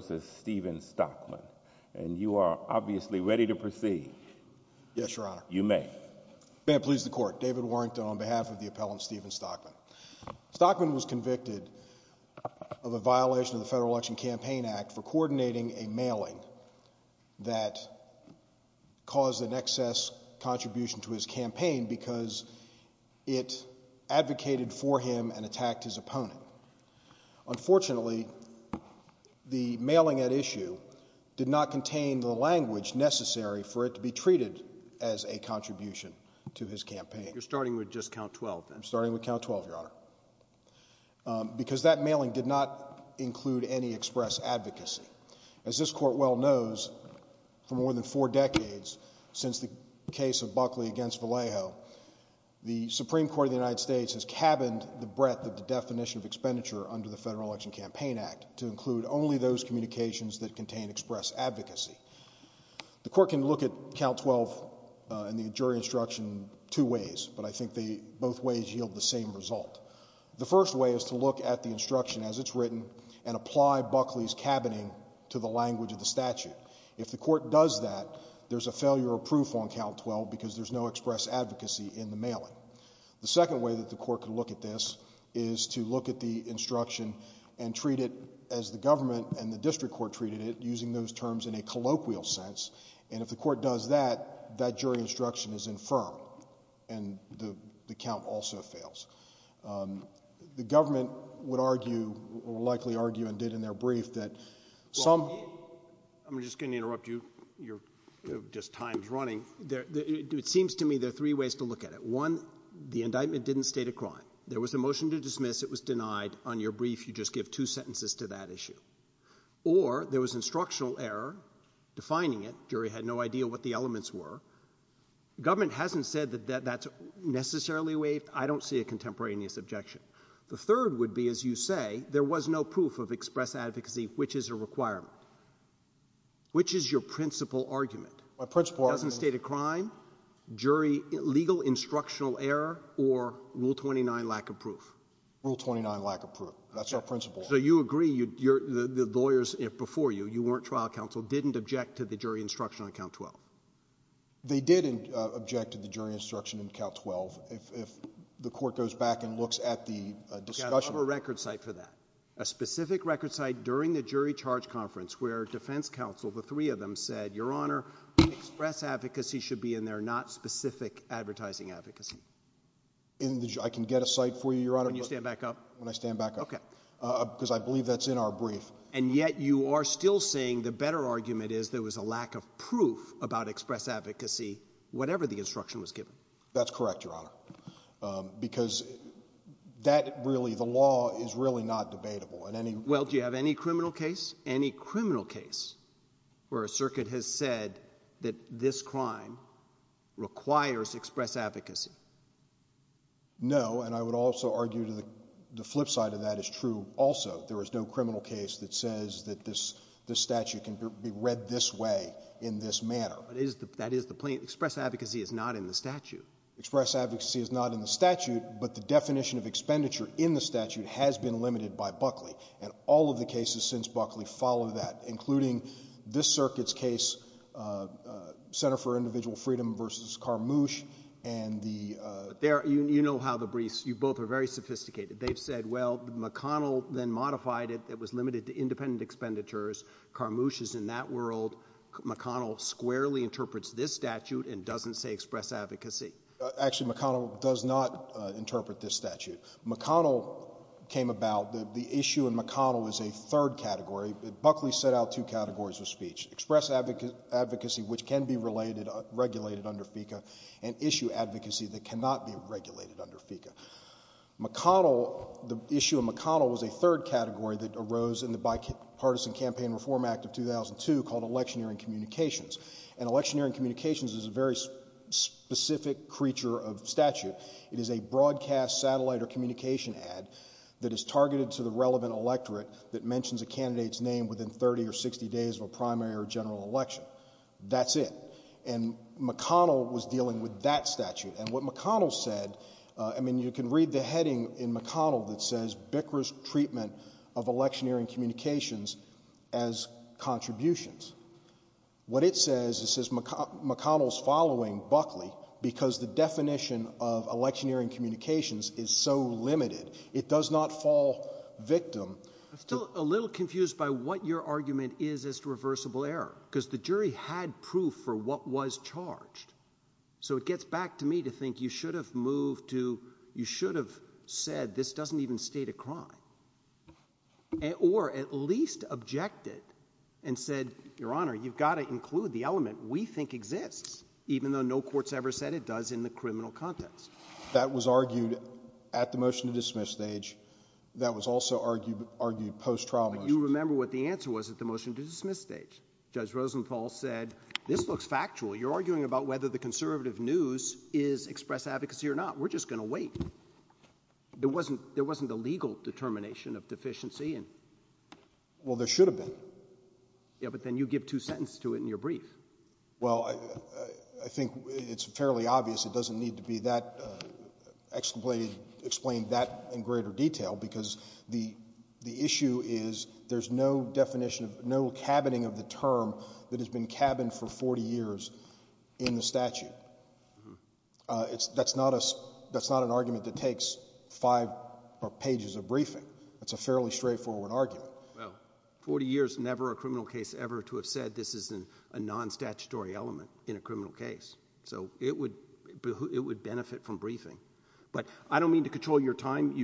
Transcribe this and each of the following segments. v. Stephen Stockman, and you are obviously ready to proceed. Yes, Your Honor. You may. May it please the Court. David Warrington on behalf of the appellant Stephen Stockman. Stockman was convicted of a violation of the Federal Election Campaign Act for coordinating a mailing that caused an excess contribution to his campaign because it advocated for him and attacked his opponent. Unfortunately, the mailing at issue did not contain the language necessary for it to be treated as a contribution to his campaign. You're starting with just count 12, then? I'm starting with count 12, Your Honor, because that mailing did not include any express advocacy. As this Court well knows, for more than four decades, since the case of Buckley against Federal Election Campaign Act to include only those communications that contain express advocacy. The Court can look at count 12 in the jury instruction two ways, but I think both ways yield the same result. The first way is to look at the instruction as it's written and apply Buckley's cabining to the language of the statute. If the Court does that, there's a failure of proof on count 12 because there's no express advocacy in the mailing. The second way that the Court can look at this is to look at the instruction and treat it as the government and the district court treated it, using those terms in a colloquial sense. And if the Court does that, that jury instruction is infirm, and the count also fails. The government would argue, or likely argue, and did in their brief that some... I'm just going to interrupt you. Your time is running. It seems to me there are three ways to look at it. One, the indictment didn't state a crime. There was a motion to dismiss. It was denied. On your brief, you just give two sentences to that issue. Or there was instructional error defining it. Jury had no idea what the elements were. Government hasn't said that that's necessarily a way. I don't see a contemporaneous objection. The third would be, as you say, there was no proof of express advocacy, which is a requirement. Which is your principal argument? My principal argument... It doesn't state a crime, legal instructional error, or Rule 29 lack of proof? Rule 29 lack of proof. That's our principal argument. So you agree, the lawyers before you, you weren't trial counsel, didn't object to the jury instruction on Count 12? They did object to the jury instruction on Count 12. If the Court goes back and looks at the discussion... We've got to have a record site for that, a specific record site during the jury charge conference, where defense counsel, the three of them, said, Your Honor, express advocacy should be in there, not specific advertising advocacy. I can get a site for you, Your Honor... When you stand back up? When I stand back up. Okay. Because I believe that's in our brief. And yet you are still saying the better argument is there was a lack of proof about express advocacy, whatever the instruction was given. That's correct, Your Honor. Because that really, the law is really not debatable in any... Well, do you have any criminal case? Any criminal case where a circuit has said that this crime requires express advocacy? No, and I would also argue the flip side of that is true also. There is no criminal case that says that this statute can be read this way, in this manner. That is the plain... express advocacy is not in the statute. Express advocacy is not in the statute, but the definition of expenditure in the statute has been limited by Buckley, and all of the cases since Buckley follow that, including this circuit's case, Center for Individual Freedom v. Carmouche, and the... You know how the briefs... you both are very sophisticated. They've said, well, McConnell then modified it. It was limited to independent expenditures. Carmouche is in that world. McConnell squarely interprets this statute and doesn't say express advocacy. Actually, McConnell does not interpret this statute. McConnell came about... the issue in McConnell is a third category. Buckley set out two categories of speech, express advocacy, which can be related... regulated under FECA, and issue advocacy that cannot be regulated under FECA. McConnell... the issue in McConnell was a third category that arose in the Bipartisan Campaign Reform Act of 2002 called electioneering communications, and electioneering communications is a very specific creature of statute. It is a broadcast satellite or communication ad that is targeted to the relevant electorate that mentions a candidate's name within 30 or 60 days of a primary or general election. That's it. And McConnell was dealing with that statute, and what McConnell said... I mean, you can read the heading in McConnell that says, Bicker's Treatment of Electioneering Communications as Contributions. What it says is McConnell's following Buckley because the definition of electioneering communications is so limited, it does not fall victim... I'm still a little confused by what your argument is as to reversible error, because the jury had proof for what was charged. So it gets back to me to think you should have moved to... you should have said this doesn't even state a crime. Or at least objected and said, Your Honor, you've got to include the element we think exists even though no court's ever said it does in the criminal context. That was argued at the motion to dismiss stage. That was also argued post-trial motion. But you remember what the answer was at the motion to dismiss stage. Judge Rosenthal said, this looks factual. You're arguing about whether the conservative news is express advocacy or not. We're just going to wait. There wasn't a legal determination of deficiency. Well, there should have been. Yeah, but then you give two sentences to it in your brief. Well, I think it's fairly obvious it doesn't need to be explained that in greater detail because the issue is there's no definition of... no cabining of the term that has been cabined for 40 years in the statute. That's not an argument that takes five pages of briefing. That's a fairly straightforward argument. Well, 40 years, never a criminal case ever to have said this is a non-statutory element in a criminal case. So it would benefit from briefing. But I don't mean to control your time.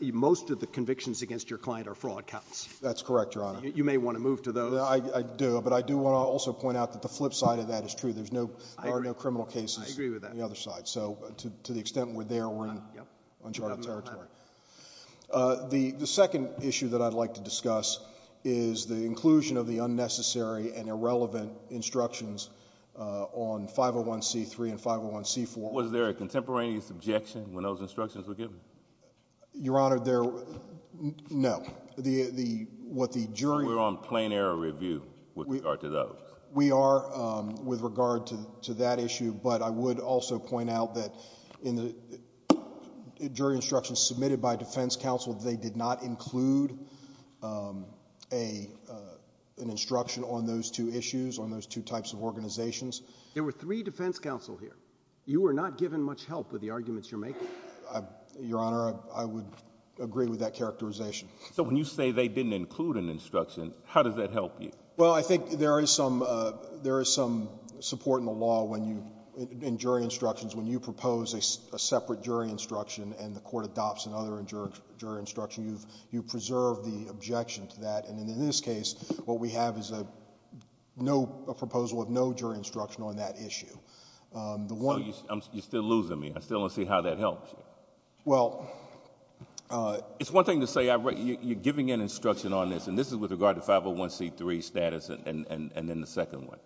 Most of the convictions against your client are fraud counts. That's correct, Your Honor. You may want to move to those. I do, but I do want to also point out that the flip side of that is true. There are no criminal cases... I agree with that.... on the other side. So to the extent we're there, we're in uncharted territory. The second issue that I'd like to discuss is the inclusion of the unnecessary and irrelevant instructions on 501c3 and 501c4. Was there a contemporaneous objection when those instructions were given? Your Honor, there... no. What the jury... We're on plain error review with regard to those. We are with regard to that issue. But I would also point out that in the jury instructions submitted by defense counsel, they did not include an instruction on those two issues, on those two types of organizations. There were three defense counsel here. You were not given much help with the arguments you're making. Your Honor, I would agree with that characterization. So when you say they didn't include an instruction, how does that help you? Well, I think there is some support in the law when you, in jury instructions, when you propose a separate jury instruction and the court adopts another jury instruction, you preserve the objection to that. And in this case, what we have is a proposal of no jury instruction on that issue. So you're still losing me. I still don't see how that helps you. Well... It's one thing to say you're giving an instruction on this, and this is with regard to 501c3 status and then the second one.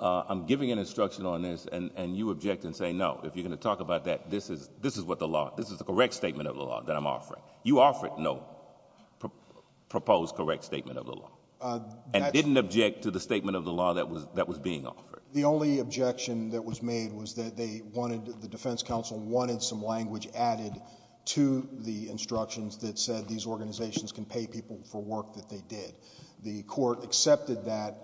I'm giving an instruction on this, and you object and say no. If you're going to talk about that, this is what the law... this is the correct statement of the law that I'm offering. You offered no proposed correct statement of the law and didn't object to the statement of the law that was being offered. The only objection that was made was that they wanted... the defense counsel wanted some language added to the instructions that said these organizations can pay people for work that they did. The court accepted that,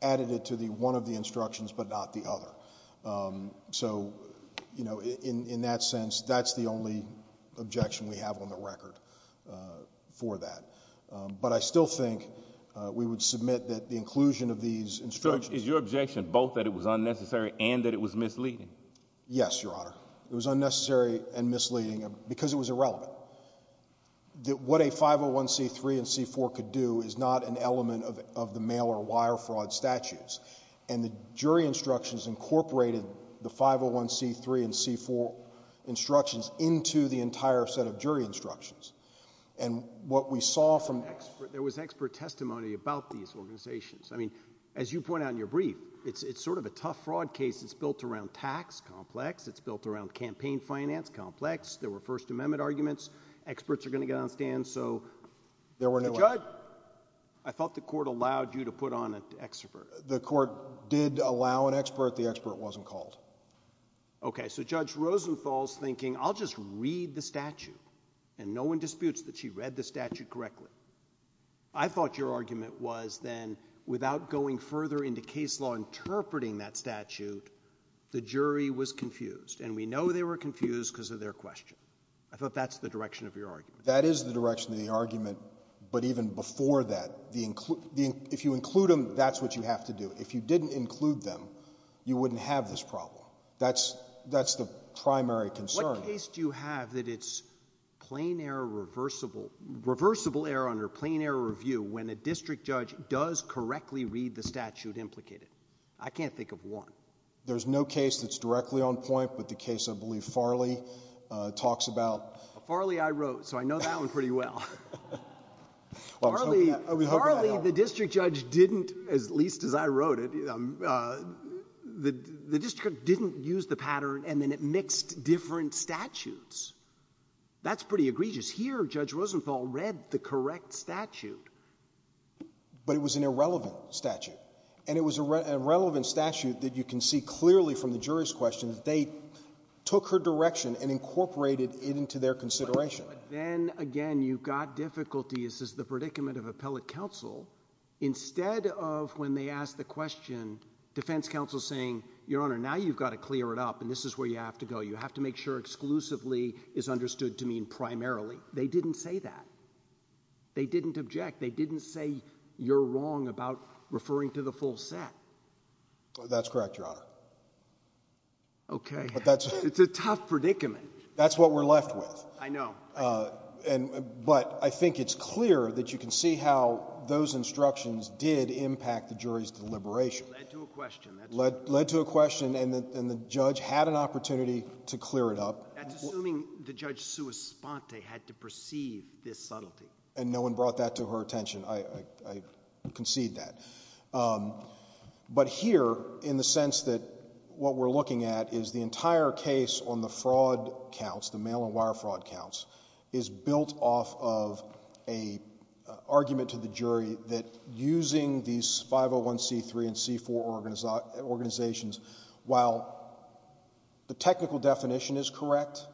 added it to one of the instructions but not the other. So, you know, in that sense, that's the only objection we have on the record for that. But I still think we would submit that the inclusion of these instructions... Judge, is your objection both that it was unnecessary and that it was misleading? Yes, Your Honor. It was unnecessary and misleading because it was irrelevant. What a 501c3 and c4 could do is not an element of the mail or wire fraud statutes. And the jury instructions incorporated the 501c3 and c4 instructions into the entire set of jury instructions. And what we saw from... There was expert testimony about these organizations. I mean, as you point out in your brief, it's sort of a tough fraud case. It's built around tax complex. It's built around campaign finance complex. There were First Amendment arguments. Experts are going to get on stand, so... There were no... Judge, I thought the court allowed you to put on an expert. The court did allow an expert. The expert wasn't called. Okay. So, Judge Rosenthal's thinking, I'll just read the statute. And no one disputes that she read the statute correctly. I thought your argument was then, without going further into case law interpreting that statute, the jury was confused. And we know they were confused because of their question. I thought that's the direction of your argument. That is the direction of the argument. But even before that, if you include them, that's what you have to do. If you didn't include them, you wouldn't have this problem. That's the primary concern. What case do you have that it's plain error reversible, reversible error under plain error review when a district judge does correctly read the statute implicated? I can't think of one. There's no case that's directly on point, but the case I believe Farley talks about. Farley, I wrote, so I know that one pretty well. Farley, the district judge didn't, at least as I wrote it, the district judge didn't use the pattern and then it mixed different statutes. That's pretty egregious. Here, Judge Rosenthal read the correct statute. But it was an irrelevant statute. And it was an irrelevant statute that you can see clearly from the jury's question that they took her direction and incorporated it into their consideration. But then, again, you've got difficulty. This is the predicament of appellate counsel. Instead of when they asked the question, defense counsel saying, Your Honor, now you've got to clear it up and this is where you have to go. You have to make sure exclusively is understood to mean primarily. They didn't say that. They didn't object. They didn't say you're wrong about referring to the full set. That's correct, Your Honor. Okay. It's a tough predicament. That's what we're left with. I know. But I think it's clear that you can see how those instructions did impact the jury's deliberation. Led to a question. Led to a question, and the judge had an opportunity to clear it up. That's assuming that Judge Suos-Ponte had to perceive this subtlety. And no one brought that to her attention. I concede that. But here, in the sense that what we're looking at is the entire case on the fraud counts, the mail and wire fraud counts, is built off of an argument to the jury that using these 501c3 and c4 organizations, while the technical definition is correct,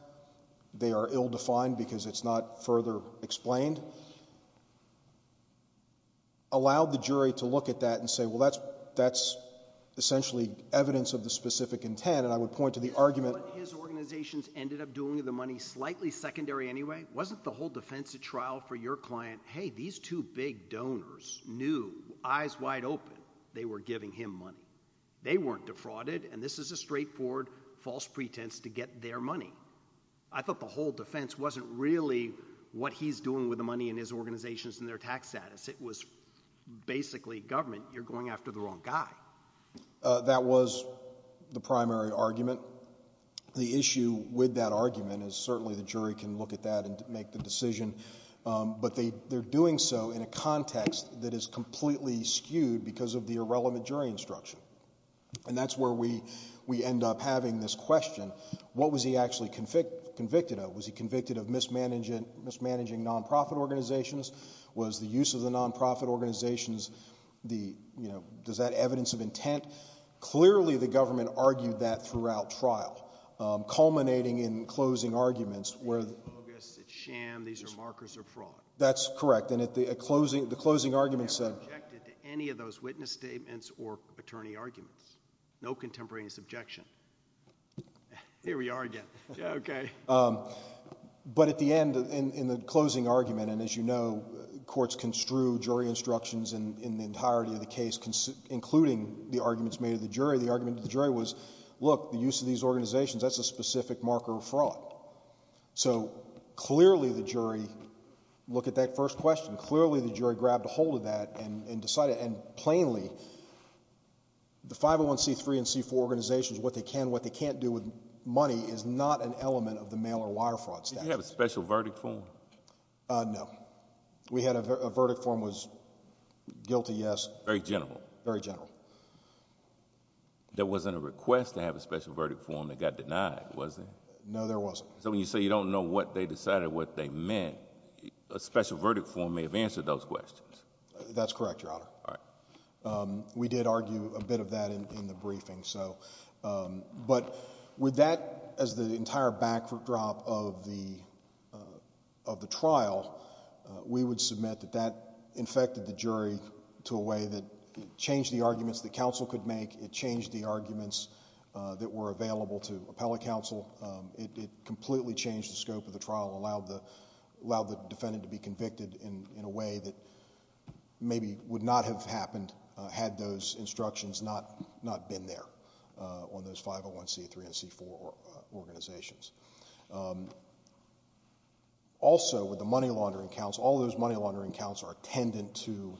they are ill-defined because it's not further explained, allowed the jury to look at that and say, well, that's essentially evidence of the specific intent, and I would point to the argument. His organizations ended up doing the money slightly secondary anyway. Wasn't the whole defense at trial for your client, hey, these two big donors knew, eyes wide open, they were giving him money. They weren't defrauded, and this is a straightforward false pretense to get their money. I thought the whole defense wasn't really what he's doing with the money in his organizations and their tax status. It was basically government, you're going after the wrong guy. That was the primary argument. The issue with that argument is certainly the jury can look at that and make the decision, but they're doing so in a context that is completely skewed because of the irrelevant jury instruction, and that's where we end up having this question, what was he actually convicted of? Was he convicted of mismanaging nonprofit organizations? Was the use of the nonprofit organizations, does that evidence of intent? Clearly the government argued that throughout trial, culminating in closing arguments. It's bogus. It's sham. These are markers of fraud. That's correct, and the closing argument said. I objected to any of those witness statements or attorney arguments. No contemporaneous objection. Here we are again. Okay. But at the end, in the closing argument, and as you know, look, the use of these organizations, that's a specific marker of fraud. So clearly the jury, look at that first question, clearly the jury grabbed a hold of that and decided, and plainly, the 501c3 and c4 organizations, what they can, what they can't do with money, is not an element of the mail or wire fraud statute. Did you have a special verdict form? No. We had a verdict form was guilty, yes. Very general. Very general. There wasn't a request to have a special verdict form that got denied, was there? No, there wasn't. So when you say you don't know what they decided what they meant, a special verdict form may have answered those questions. That's correct, Your Honor. All right. We did argue a bit of that in the briefing. But with that as the entire backdrop of the trial, we would submit that that infected the jury to a way that it changed the arguments that counsel could make. It changed the arguments that were available to appellate counsel. It completely changed the scope of the trial, allowed the defendant to be convicted in a way that maybe would not have happened had those instructions not been there on those 501c3 and c4 organizations. Also, with the money laundering counts, all those money laundering counts are attendant to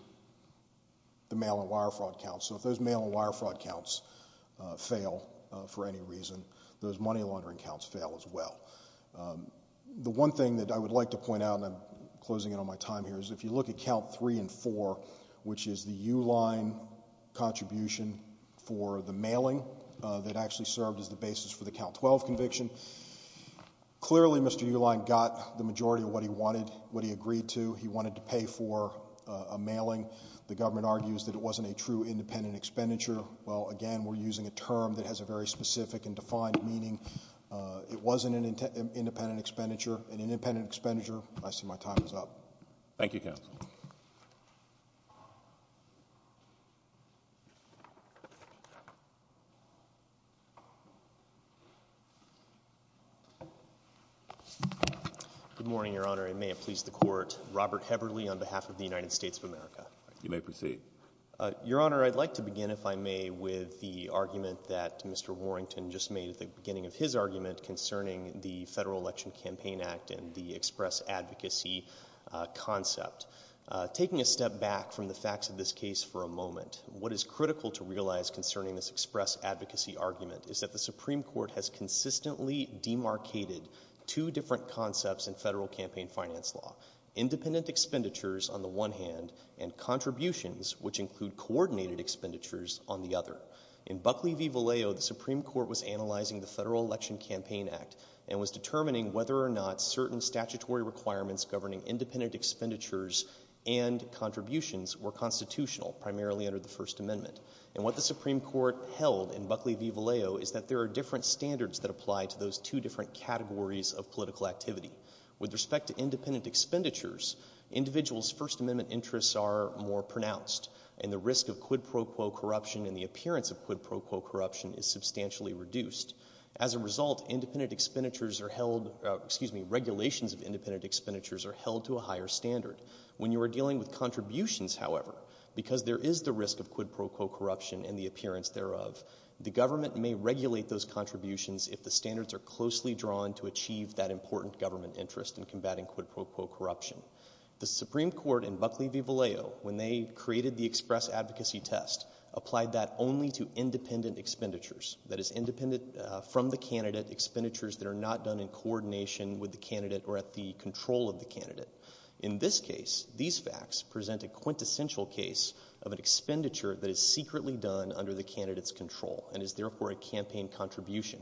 the mail and wire fraud counts. So if those mail and wire fraud counts fail for any reason, those money laundering counts fail as well. The one thing that I would like to point out, and I'm closing in on my time here, is if you look at count three and four, which is the U-line contribution for the mailing that actually served as the basis for the count 12 conviction, clearly Mr. U-line got the majority of what he wanted, what he agreed to. He wanted to pay for a mailing. The government argues that it wasn't a true independent expenditure. Well, again, we're using a term that has a very specific and defined meaning. It wasn't an independent expenditure. An independent expenditure. I see my time is up. Thank you, counsel. Good morning, Your Honor, and may it please the Court. Robert Heverly on behalf of the United States of America. You may proceed. Your Honor, I'd like to begin, if I may, with the argument that Mr. Warrington just made at the beginning of his argument concerning the Federal Election Campaign Act and the express advocacy concept. Taking a step back from the facts of this case for a moment, what is critical to realize concerning this express advocacy argument is that the Supreme Court has consistently demarcated two different concepts in federal campaign finance law. Independent expenditures, on the one hand, and contributions, which include coordinated expenditures, on the other. In Buckley v. Vallejo, the Supreme Court was analyzing the Federal Election Campaign Act and was determining whether or not certain statutory requirements governing independent expenditures and contributions were constitutional, primarily under the First Amendment. And what the Supreme Court held in Buckley v. Vallejo is that there are different standards that apply to those two different categories of political activity. With respect to independent expenditures, individuals' First Amendment interests are more pronounced, and the risk of quid pro quo corruption and the appearance of quid pro quo corruption is substantially reduced. As a result, independent expenditures are held — excuse me, regulations of independent expenditures are held to a higher standard. When you are dealing with contributions, however, because there is the risk of quid pro quo corruption and the appearance thereof, the government may regulate those contributions if the standards are closely drawn to achieve that important government interest in combating quid pro quo corruption. The Supreme Court in Buckley v. Vallejo, when they created the express advocacy test, applied that only to independent expenditures. That is, independent from the candidate expenditures that are not done in coordination with the candidate or at the control of the candidate. In this case, these facts present a quintessential case of an expenditure that is secretly done under the candidate's control and is therefore a campaign contribution.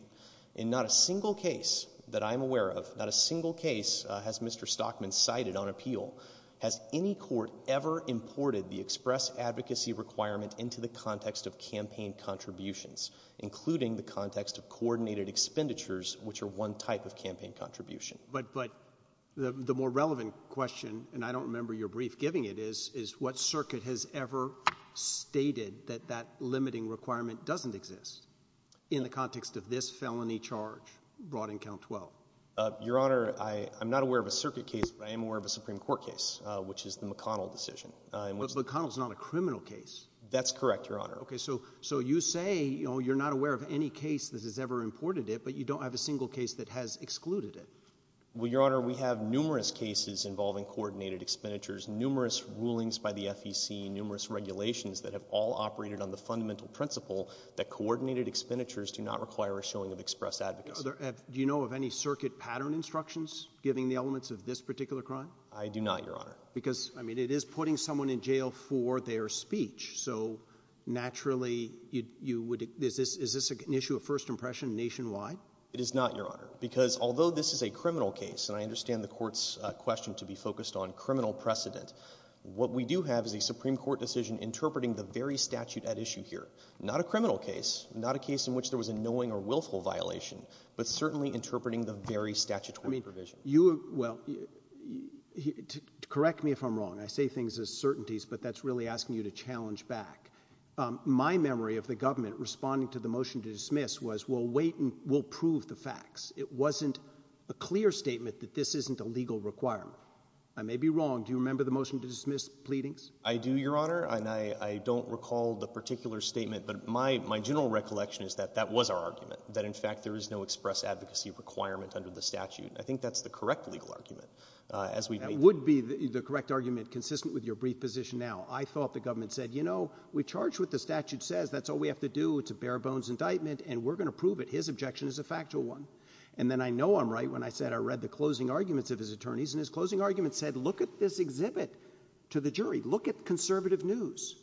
In not a single case that I'm aware of, not a single case has Mr. Stockman cited on appeal, has any court ever imported the express advocacy requirement into the context of campaign contributions, including the context of coordinated expenditures, which are one type of campaign contribution. But the more relevant question, and I don't remember your brief giving it, is what circuit has ever stated that that limiting requirement doesn't exist in the context of this felony charge brought in Count 12? Your Honor, I'm not aware of a circuit case, but I am aware of a Supreme Court case, which is the McConnell decision. But McConnell's not a criminal case. That's correct, Your Honor. Okay, so you say you're not aware of any case that has ever imported it, but you don't have a single case that has excluded it. Well, Your Honor, we have numerous cases involving coordinated expenditures, numerous rulings by the FEC, numerous regulations that have all operated on the fundamental principle that coordinated expenditures do not require a showing of express advocacy. Do you know of any circuit pattern instructions giving the elements of this particular crime? I do not, Your Honor. Because, I mean, it is putting someone in jail for their speech, so naturally you would... Is this an issue of first impression nationwide? It is not, Your Honor. Because although this is a criminal case, and I understand the Court's question to be focused on criminal precedent, what we do have is a Supreme Court decision interpreting the very statute at issue here. Not a criminal case, not a case in which there was a knowing or willful violation, but certainly interpreting the very statutory provision. Well, correct me if I'm wrong. I say things as certainties, but that's really asking you to challenge back. My memory of the government responding to the motion to dismiss was we'll wait and we'll prove the facts. It wasn't a clear statement that this isn't a legal requirement. I may be wrong. Do you remember the motion to dismiss pleadings? I do, Your Honor, and I don't recall the particular statement, but my general recollection is that that was our argument, that in fact there is no express advocacy requirement under the statute. I think that's the correct legal argument. That would be the correct argument, consistent with your brief position now. I thought the government said, you know, we charge what the statute says. That's all we have to do. It's a bare-bones indictment, and we're going to prove it. His objection is a factual one. And then I know I'm right when I said I read the closing arguments of his attorneys, and his closing argument said, look at this exhibit to the jury. Look at conservative news.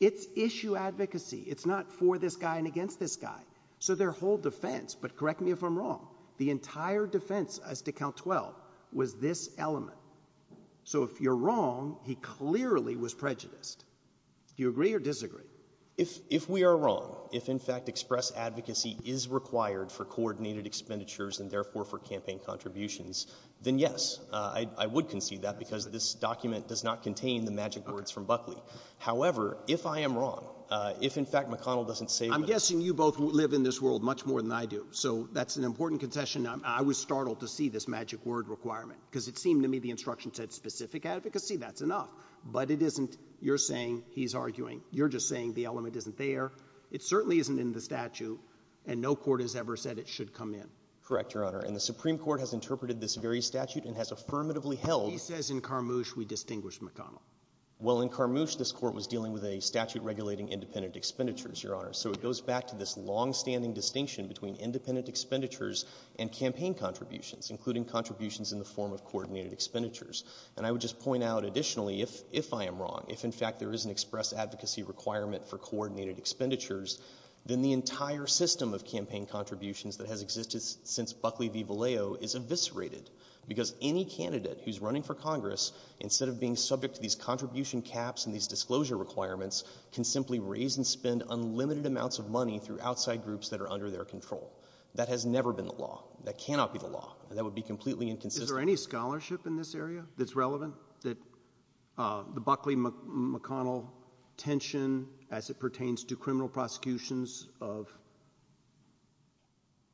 It's issue advocacy. It's not for this guy and against this guy. So their whole defense, but correct me if I'm wrong, the entire defense as to Count 12 was this element. So if you're wrong, he clearly was prejudiced. Do you agree or disagree? If we are wrong, if in fact express advocacy is required for coordinated expenditures and therefore for campaign contributions, then yes, I would concede that, because this document does not contain the magic words from Buckley. However, if I am wrong, if in fact McConnell doesn't say that. I'm guessing you both live in this world much more than I do, so that's an important contention. I was startled to see this magic word requirement because it seemed to me the instruction said specific advocacy. That's enough, but it isn't. You're saying he's arguing. You're just saying the element isn't there. It certainly isn't in the statute, and no court has ever said it should come in. Correct, Your Honor. And the Supreme Court has interpreted this very statute and has affirmatively held. He says in Carmouche we distinguish McConnell. Well, in Carmouche, this court was dealing with a statute regulating independent expenditures, Your Honor, so it goes back to this longstanding distinction between independent expenditures and campaign contributions, including contributions in the form of coordinated expenditures. And I would just point out additionally, if I am wrong, if in fact there is an express advocacy requirement for coordinated expenditures, then the entire system of campaign contributions that has existed since Buckley v. Vallejo is eviscerated because any candidate who's running for Congress, instead of being subject to these contribution caps and these disclosure requirements, can simply raise and spend unlimited amounts of money through outside groups that are under their control. That has never been the law. That cannot be the law. That would be completely inconsistent. Is there any scholarship in this area that's relevant? The Buckley-McConnell tension as it pertains to criminal prosecutions of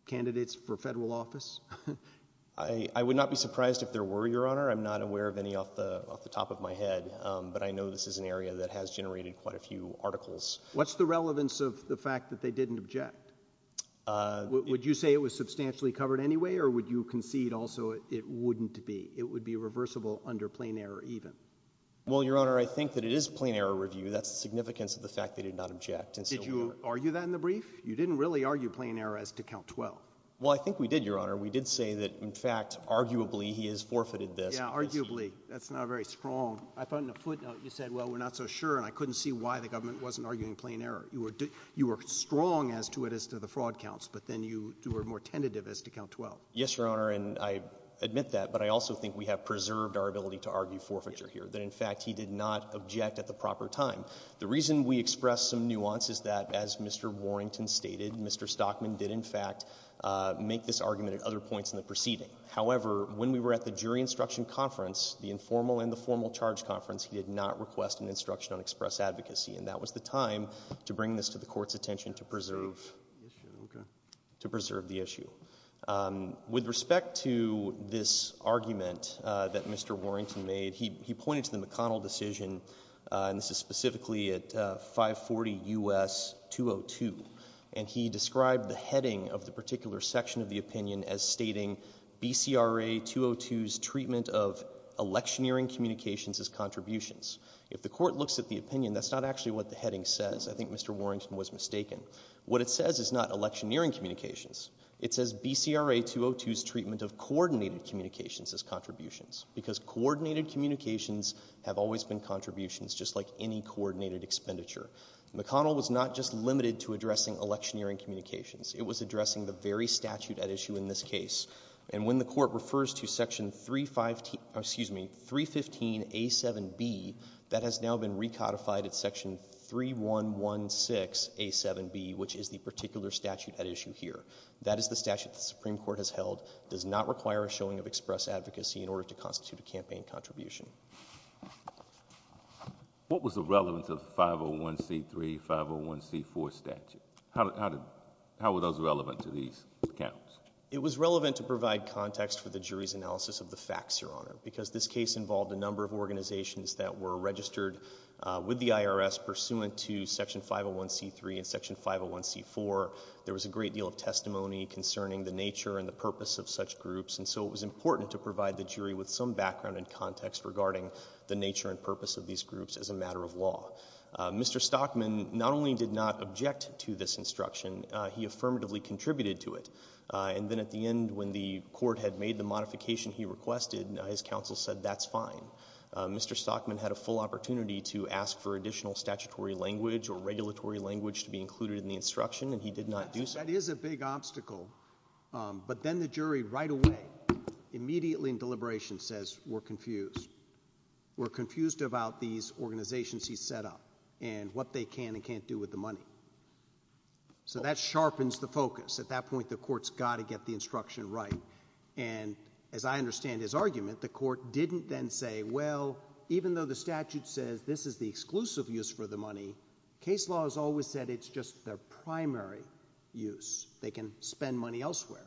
candidates for federal office? I would not be surprised if there were, Your Honor. I'm not aware of any off the top of my head, but I know this is an area that has generated quite a few articles. What's the relevance of the fact that they didn't object? Would you say it was substantially covered anyway, or would you concede also it wouldn't be? It would be reversible under plain error even. Well, Your Honor, I think that it is plain error review. That's the significance of the fact they did not object. Did you argue that in the brief? You didn't really argue plain error as to count 12. Well, I think we did, Your Honor. We did say that, in fact, arguably he has forfeited this. Yeah, arguably. That's not very strong. I thought in a footnote you said, well, we're not so sure, and I couldn't see why the government wasn't arguing plain error. You were strong as to it as to the fraud counts, but then you were more tentative as to count 12. Yes, Your Honor, and I admit that, but I also think we have preserved our ability to argue forfeiture here, that, in fact, he did not object at the proper time. The reason we expressed some nuance is that, as Mr. Warrington stated, Mr. Stockman did, in fact, make this argument at other points in the proceeding. However, when we were at the jury instruction conference, the informal and the formal charge conference, he did not request an instruction on express advocacy, and that was the time to bring this to the Court's attention to preserve the issue. With respect to this argument that Mr. Warrington made, he pointed to the McConnell decision, and this is specifically at 540 U.S. 202, and he described the heading of the particular section of the opinion as stating BCRA 202's treatment of electioneering communications as contributions. If the Court looks at the opinion, that's not actually what the heading says. I think Mr. Warrington was mistaken. What it says is not electioneering communications. It says BCRA 202's treatment of coordinated communications as contributions, because coordinated communications have always been contributions, just like any coordinated expenditure. McConnell was not just limited to addressing electioneering communications. It was addressing the very statute at issue in this case, and when the Court refers to section 315A7B, that has now been recodified at section 3116A7B, which is the particular statute at issue here. That is the statute the Supreme Court has held, does not require a showing of express advocacy in order to constitute a campaign contribution. What was the relevance of 501C3, 501C4 statute? How were those relevant to these accounts? It was relevant to provide context for the jury's analysis of the facts, Your Honor, because this case involved a number of organizations that were registered with the IRS pursuant to section 501C3 and section 501C4. There was a great deal of testimony concerning the nature and the purpose of such groups, and so it was important to provide the jury with some background and context regarding the nature and purpose of these groups as a matter of law. Mr. Stockman not only did not object to this instruction, he affirmatively contributed to it. And then at the end, when the court had made the modification he requested, his counsel said, that's fine. Mr. Stockman had a full opportunity to ask for additional statutory language or regulatory language to be included in the instruction, and he did not do so. That is a big obstacle, but then the jury right away, immediately in deliberation, says, we're confused. We're confused about these organizations he set up and what they can and can't do with the money. So that sharpens the focus. At that point, the court's got to get the instruction right. And as I understand his argument, the court didn't then say, well, even though the statute says this is the exclusive use for the money, case law has always said it's just their primary use. They can spend money elsewhere.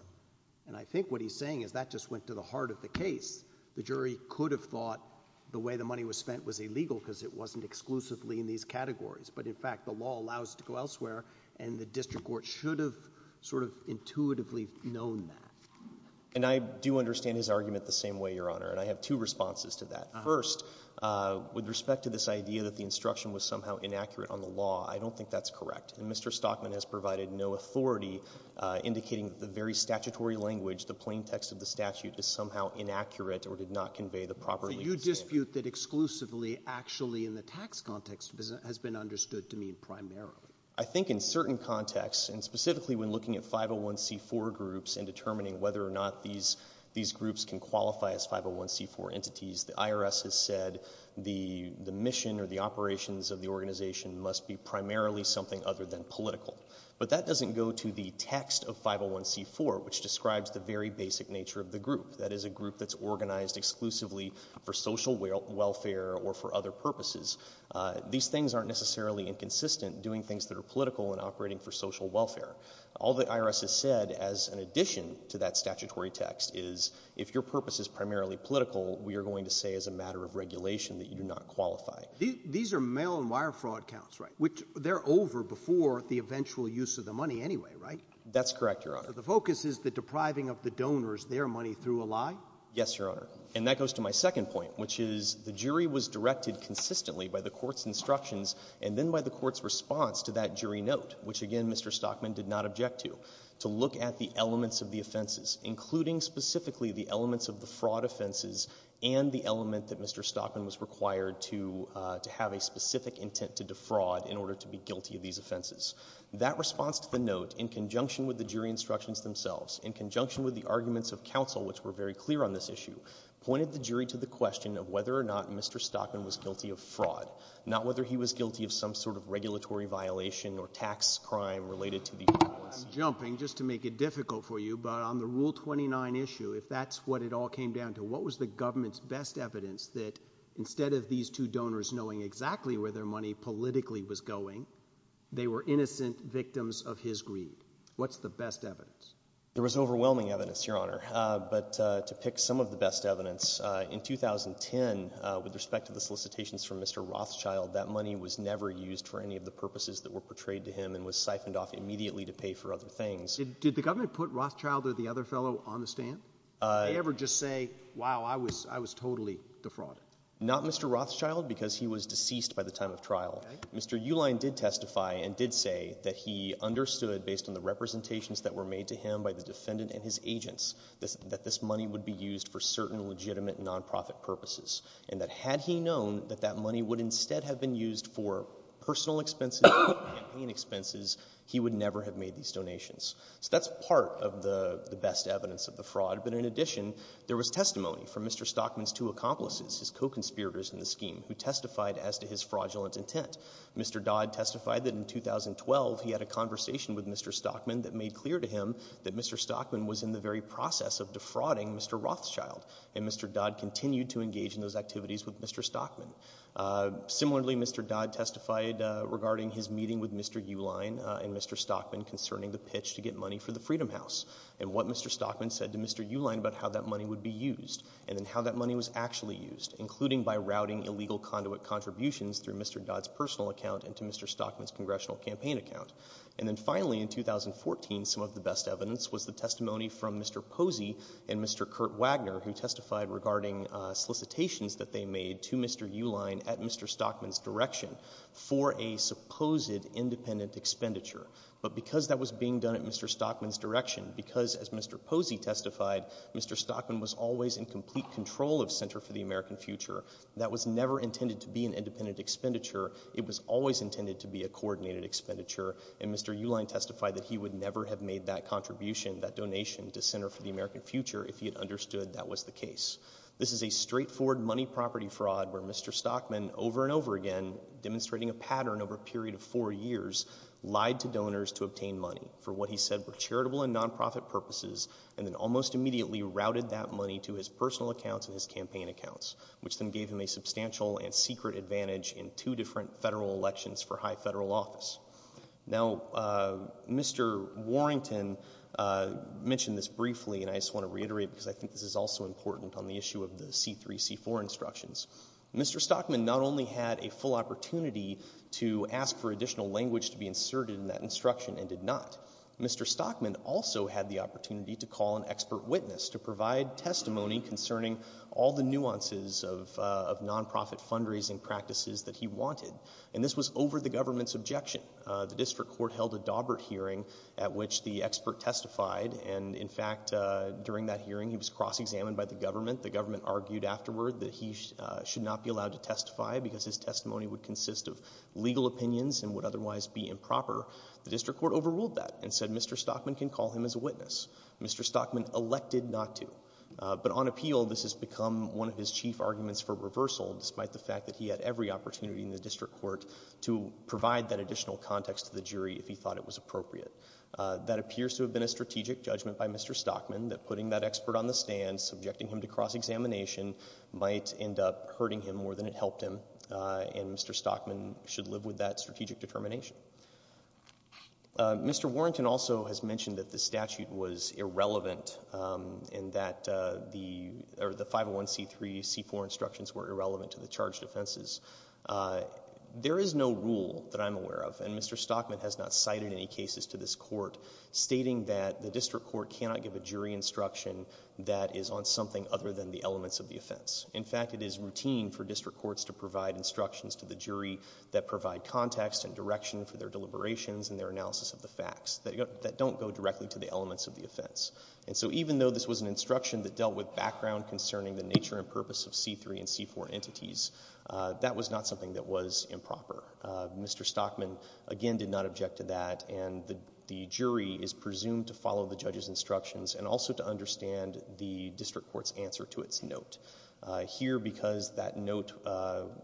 And I think what he's saying is that just went to the heart of the case. The jury could have thought the way the money was spent was illegal because it wasn't exclusively in these categories, but in fact the law allows it to go elsewhere, and the district court should have sort of intuitively known that. And I do understand his argument the same way, Your Honor, and I have two responses to that. First, with respect to this idea that the instruction was somehow inaccurate on the law, I don't think that's correct. And Mr. Stockman has provided no authority indicating that the very statutory language, the plain text of the statute, is somehow inaccurate or did not convey the proper legal standard. You dispute that exclusively, actually, and the tax context has been understood to mean primarily. I think in certain contexts, and specifically when looking at 501c4 groups and determining whether or not these groups can qualify as 501c4 entities, the IRS has said the mission or the operations of the organization must be primarily something other than political. But that doesn't go to the text of 501c4, which describes the very basic nature of the group. That is a group that's organized exclusively for social welfare or for other purposes. These things aren't necessarily inconsistent, doing things that are political and operating for social welfare. All the IRS has said as an addition to that statutory text is if your purpose is primarily political, we are going to say as a matter of regulation that you do not qualify. These are mail-and-wire fraud counts, right, which they're over before the eventual use of the money anyway, right? That's correct, Your Honor. The focus is the depriving of the donors their money through a lie? Yes, Your Honor. And that goes to my second point, which is the jury was directed consistently by the court's instructions and then by the court's response to that jury note, which, again, Mr. Stockman did not object to, to look at the elements of the offenses, including specifically the elements of the fraud offenses and the element that Mr. Stockman was required to have a specific intent to defraud in order to be guilty of these offenses. That response to the note, in conjunction with the jury instructions themselves, in conjunction with the arguments of counsel, which were very clear on this issue, pointed the jury to the question of whether or not Mr. Stockman was guilty of fraud, not whether he was guilty of some sort of regulatory violation or tax crime related to these offenses. I'm jumping, just to make it difficult for you, but on the Rule 29 issue, if that's what it all came down to, what was the government's best evidence that instead of these two donors knowing exactly where their money politically was going, they were innocent victims of his greed? What's the best evidence? There was overwhelming evidence, Your Honor. But to pick some of the best evidence, in 2010, with respect to the solicitations from Mr. Rothschild, that money was never used for any of the purposes that were portrayed to him and was siphoned off immediately to pay for other things. Did the government put Rothschild or the other fellow on the stand? Did they ever just say, wow, I was totally defrauded? Not Mr. Rothschild, because he was deceased by the time of trial. Mr. Uline did testify and did say that he understood, based on the representations that were made to him by the defendant and his agents, that this money would be used for certain legitimate nonprofit purposes, and that had he known that that money would instead have been used for personal expenses, campaign expenses, he would never have made these donations. So that's part of the best evidence of the fraud. But in addition, there was testimony from Mr. Stockman's two accomplices, his co-conspirators in the scheme, who testified as to his fraudulent intent. Mr. Dodd testified that in 2012 he had a conversation with Mr. Stockman that made clear to him that Mr. Stockman was in the very process of defrauding Mr. Rothschild, and Mr. Dodd continued to engage in those activities with Mr. Stockman. Similarly, Mr. Dodd testified regarding his meeting with Mr. Uline and Mr. Stockman concerning the pitch to get money for the Freedom House and what Mr. Stockman said to Mr. Uline about how that money would be used and then how that money was actually used, including by routing illegal conduit contributions through Mr. Dodd's personal account and to Mr. Stockman's congressional campaign account. And then finally, in 2014, some of the best evidence was the testimony from Mr. Posey and Mr. Kurt Wagner, who testified regarding solicitations that they made to Mr. Uline at Mr. Stockman's direction for a supposed independent expenditure. But because that was being done at Mr. Stockman's direction, because, as Mr. Posey testified, Mr. Stockman was always in complete control of Center for the American Future, that was never intended to be an independent expenditure. It was always intended to be a coordinated expenditure. And Mr. Uline testified that he would never have made that contribution, that donation, to Center for the American Future if he had understood that was the case. This is a straightforward money property fraud where Mr. Stockman, over and over again, demonstrating a pattern over a period of four years, lied to donors to obtain money for what he said were charitable and nonprofit purposes and then almost immediately routed that money to his personal accounts and his campaign accounts, which then gave him a substantial and secret advantage in two different federal elections for high federal office. Now, Mr. Warrington mentioned this briefly, and I just want to reiterate because I think this is also important on the issue of the C-3, C-4 instructions. Mr. Stockman not only had a full opportunity to ask for additional language to be inserted in that instruction and did not. Mr. Stockman also had the opportunity to call an expert witness to provide testimony concerning all the nuances of nonprofit fundraising practices that he wanted. And this was over the government's objection. The district court held a Daubert hearing at which the expert testified, and in fact, during that hearing, he was cross-examined by the government. The government argued afterward that he should not be allowed to testify because his testimony would consist of legal opinions and would otherwise be improper. The district court overruled that and said Mr. Stockman can call him as a witness. Mr. Stockman elected not to. But on appeal, this has become one of his chief arguments for reversal, despite the fact that he had every opportunity in the district court to provide that additional context to the jury if he thought it was appropriate. That appears to have been a strategic judgment by Mr. Stockman, that putting that expert on the stand, subjecting him to cross-examination, might end up hurting him more than it helped him, and Mr. Stockman should live with that strategic determination. Mr. Warrington also has mentioned that the statute was irrelevant and that the 501c3, c4 instructions were irrelevant to the charged offenses. There is no rule that I'm aware of, and Mr. Stockman has not cited any cases to this court stating that the district court cannot give a jury instruction that is on something other than the elements of the offense. In fact, it is routine for district courts to provide instructions to the jury that provide context and direction that don't go directly to the elements of the offense. And so even though this was an instruction that dealt with background concerning the nature and purpose of c3 and c4 entities, that was not something that was improper. Mr. Stockman, again, did not object to that, and the jury is presumed to follow the judge's instructions and also to understand the district court's answer to its note. Here, because that note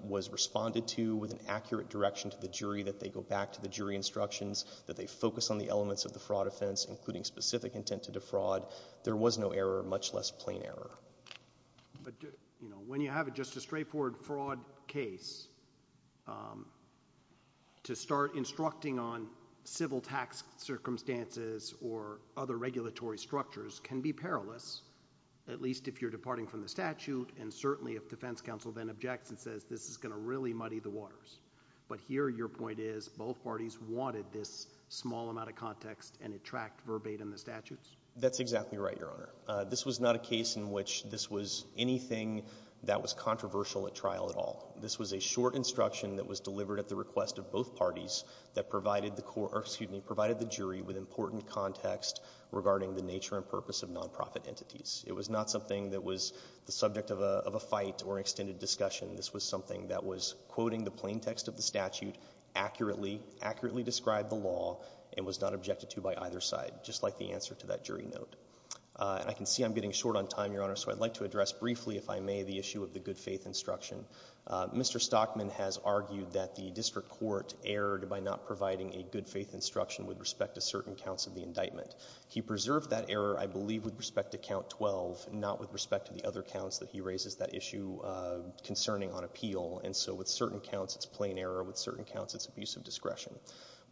was responded to with an accurate direction to the jury that they go back to the jury instructions, that they focus on the elements of the fraud offense, including specific intent to defraud, there was no error, much less plain error. But, you know, when you have just a straightforward fraud case, um, to start instructing on civil tax circumstances or other regulatory structures can be perilous, at least if you're departing from the statute, and certainly if defense counsel then objects and says, this is gonna really muddy the waters. But here your point is, both parties wanted this small amount of context and it tracked verbatim the statutes? That's exactly right, Your Honor. This was not a case in which this was anything that was controversial at trial at all. This was a short instruction that was delivered at the request of both parties that provided the court, or excuse me, provided the jury with important context regarding the nature and purpose of non-profit entities. It was not something that was the subject of a fight or extended discussion. This was something that was quoting the plain text of the statute accurately, accurately described the law, and was not objected to by either side, just like the answer to that jury note. Uh, and I can see I'm getting short on time, Your Honor, so I'd like to address briefly, if I may, the issue of the good faith instruction. Uh, Mr. Stockman has argued that the district court erred by not providing a good faith instruction with respect to certain counts of the indictment. He preserved that error, I believe, with respect to count 12, not with respect to the other counts that he raises that issue, uh, concerning on appeal, and so with certain counts it's plain error, with certain counts it's abuse of discretion.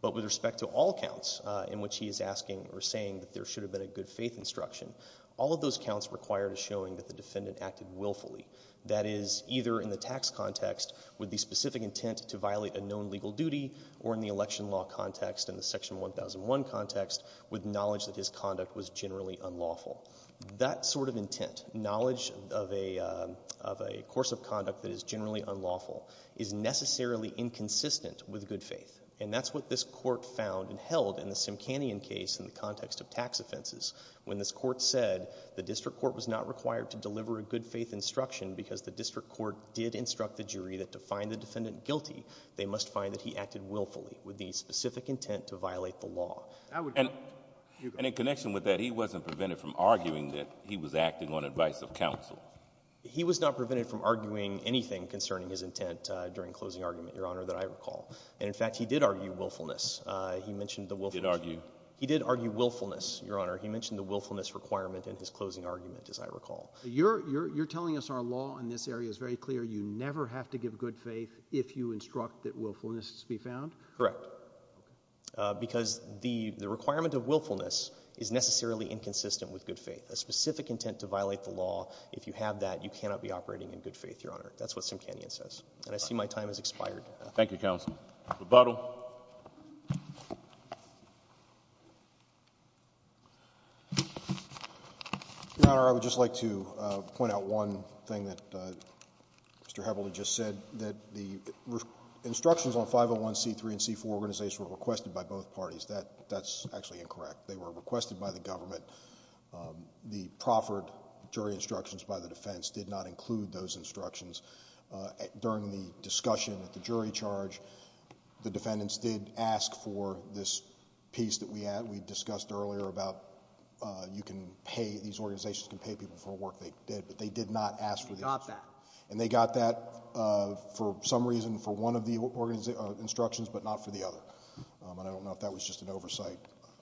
But with respect to all counts, uh, in which he is asking or saying that there should have been a good faith instruction, all of those counts required a showing that the defendant acted willfully. That is, either in the tax context with the specific intent to violate a known legal duty, or in the election law context, in the section 1001 context, with knowledge that his conduct was generally unlawful. That sort of intent, knowledge of a, um, of a course of conduct that is generally unlawful, is necessarily inconsistent with good faith. And that's what this Court found and held in the Simcanyon case in the context of tax offenses, when this Court said the district court was not required to deliver a good faith instruction because the district court did instruct the jury that to find the defendant guilty, they must find that he acted willfully with the specific intent to violate the law. And in connection with that, he wasn't prevented from arguing that he was acting on advice of counsel. He was not prevented from arguing anything concerning his intent during closing argument, Your Honor, that I recall. And in fact, he did argue willfulness. He mentioned the willfulness. He did argue? He did argue willfulness, Your Honor. He mentioned the willfulness requirement in his closing argument, as I recall. You're telling us our law in this area is very clear. You never have to give good faith if you instruct that willfulness be found? Correct. Because the requirement of willfulness is necessarily inconsistent with good faith. A specific intent to violate the law, if you have that, you cannot be operating in good faith, Your Honor. That's what Simkanian says. And I see my time has expired. Thank you, Counsel. Rebuttal. Your Honor, I would just like to point out one thing that Mr. Heavily just said, that the instructions on 501 C3 and C4 organizations were requested by both parties. That's actually incorrect. They were requested by the government. The proffered jury instructions by the defense did not include those instructions. During the discussion at the jury charge, the defendants did ask for this piece that we discussed earlier about you can pay these organizations can pay people for work they did, but they did not ask for the instructions. And they got that for some reason for one of the instructions, but not for the other. And I don't know if that was just an oversight.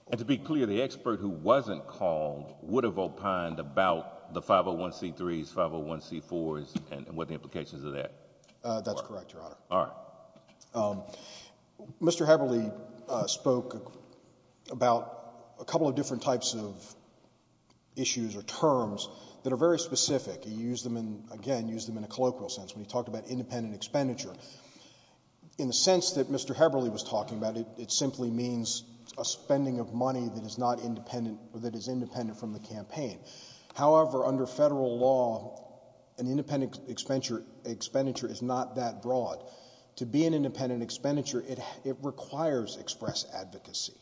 And to be clear, the expert who wasn't called would have opined about the 501 C3s, 501 C4s, and what the implications of that were. That's correct, Your Honor. Mr. Heavily spoke about a couple of different types of issues or terms that are very specific. He used them in, again, used them in a colloquial sense when he talked about independent expenditure. In the sense that Mr. Heavily was talking about, it simply means a spending of money that is independent from the campaign. However, under federal law, an independent expenditure is not that broad. To be an independent expenditure, it requires express advocacy.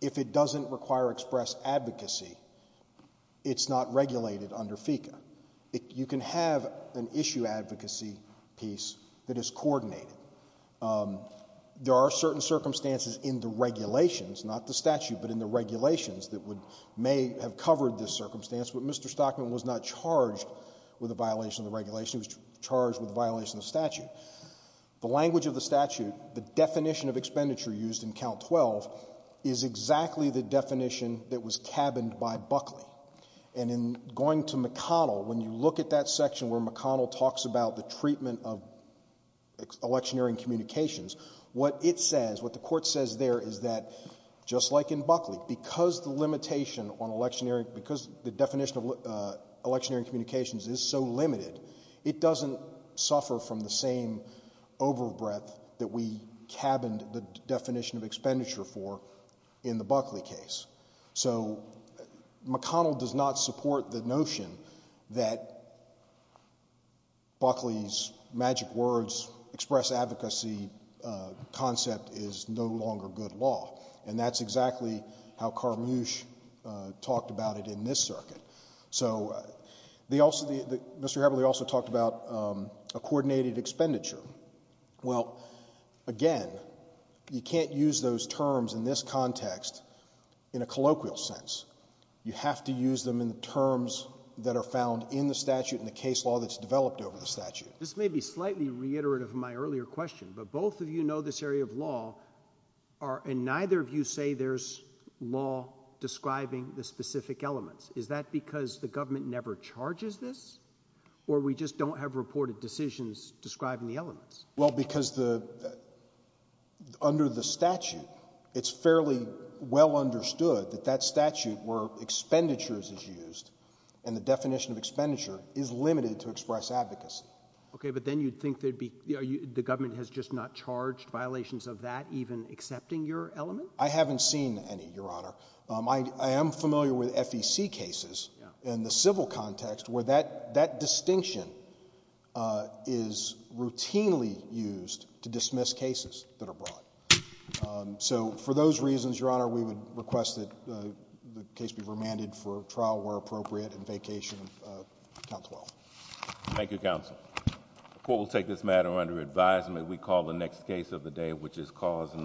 If it doesn't require express advocacy, it's not regulated under FECA. You can have an issue advocacy piece that is coordinated. There are certain circumstances in the regulations, not the statute, but in the regulations that may have covered this circumstance, but Mr. Stockman was not charged with a violation of the regulation. He was charged with a violation of the statute. The language of the statute, the definition of expenditure used in Count 12 is exactly the definition that was cabined by Buckley. And in going to McConnell, when you look at that section where McConnell talks about the treatment of electioneering communications, what it says, what the court says there is that, just like in Buckley, because the limitation on electioneering, because the definition of electioneering communications is so limited, it doesn't suffer from the same overbreath that we cabined the definition of expenditure for in the Buckley case. So McConnell does not support the notion that Buckley's magic words, express advocacy concept is no longer good law. And that's exactly how Carmusch talked about it in this circuit. So they also, Mr. Heberle also talked about a coordinated expenditure. Well, again, you can't use those terms in this context in a colloquial sense. You have to use them in the terms that are found in the statute and the case law that's developed over the statute. This may be slightly reiterative of my earlier question, but both of you know this area of law and neither of you say there's law describing the specific elements. Is that because the government never charges this? Or we just don't have reported decisions describing the elements? Well, because under the statute, it's fairly well understood that that statute where expenditures is used and the definition of advocacy. Okay, but then you'd think the government has just not charged violations of that, even accepting your element? I haven't seen any, Your Honor. I am familiar with FEC cases in the civil context where that distinction is routinely used to dismiss cases that are brought. So for those reasons, Your Honor, we would request that the case be remanded for trial where appropriate and vacation and counsel. Thank you, counsel. The court will take this matter under advisement. We call the next case of the day, which is cause and number.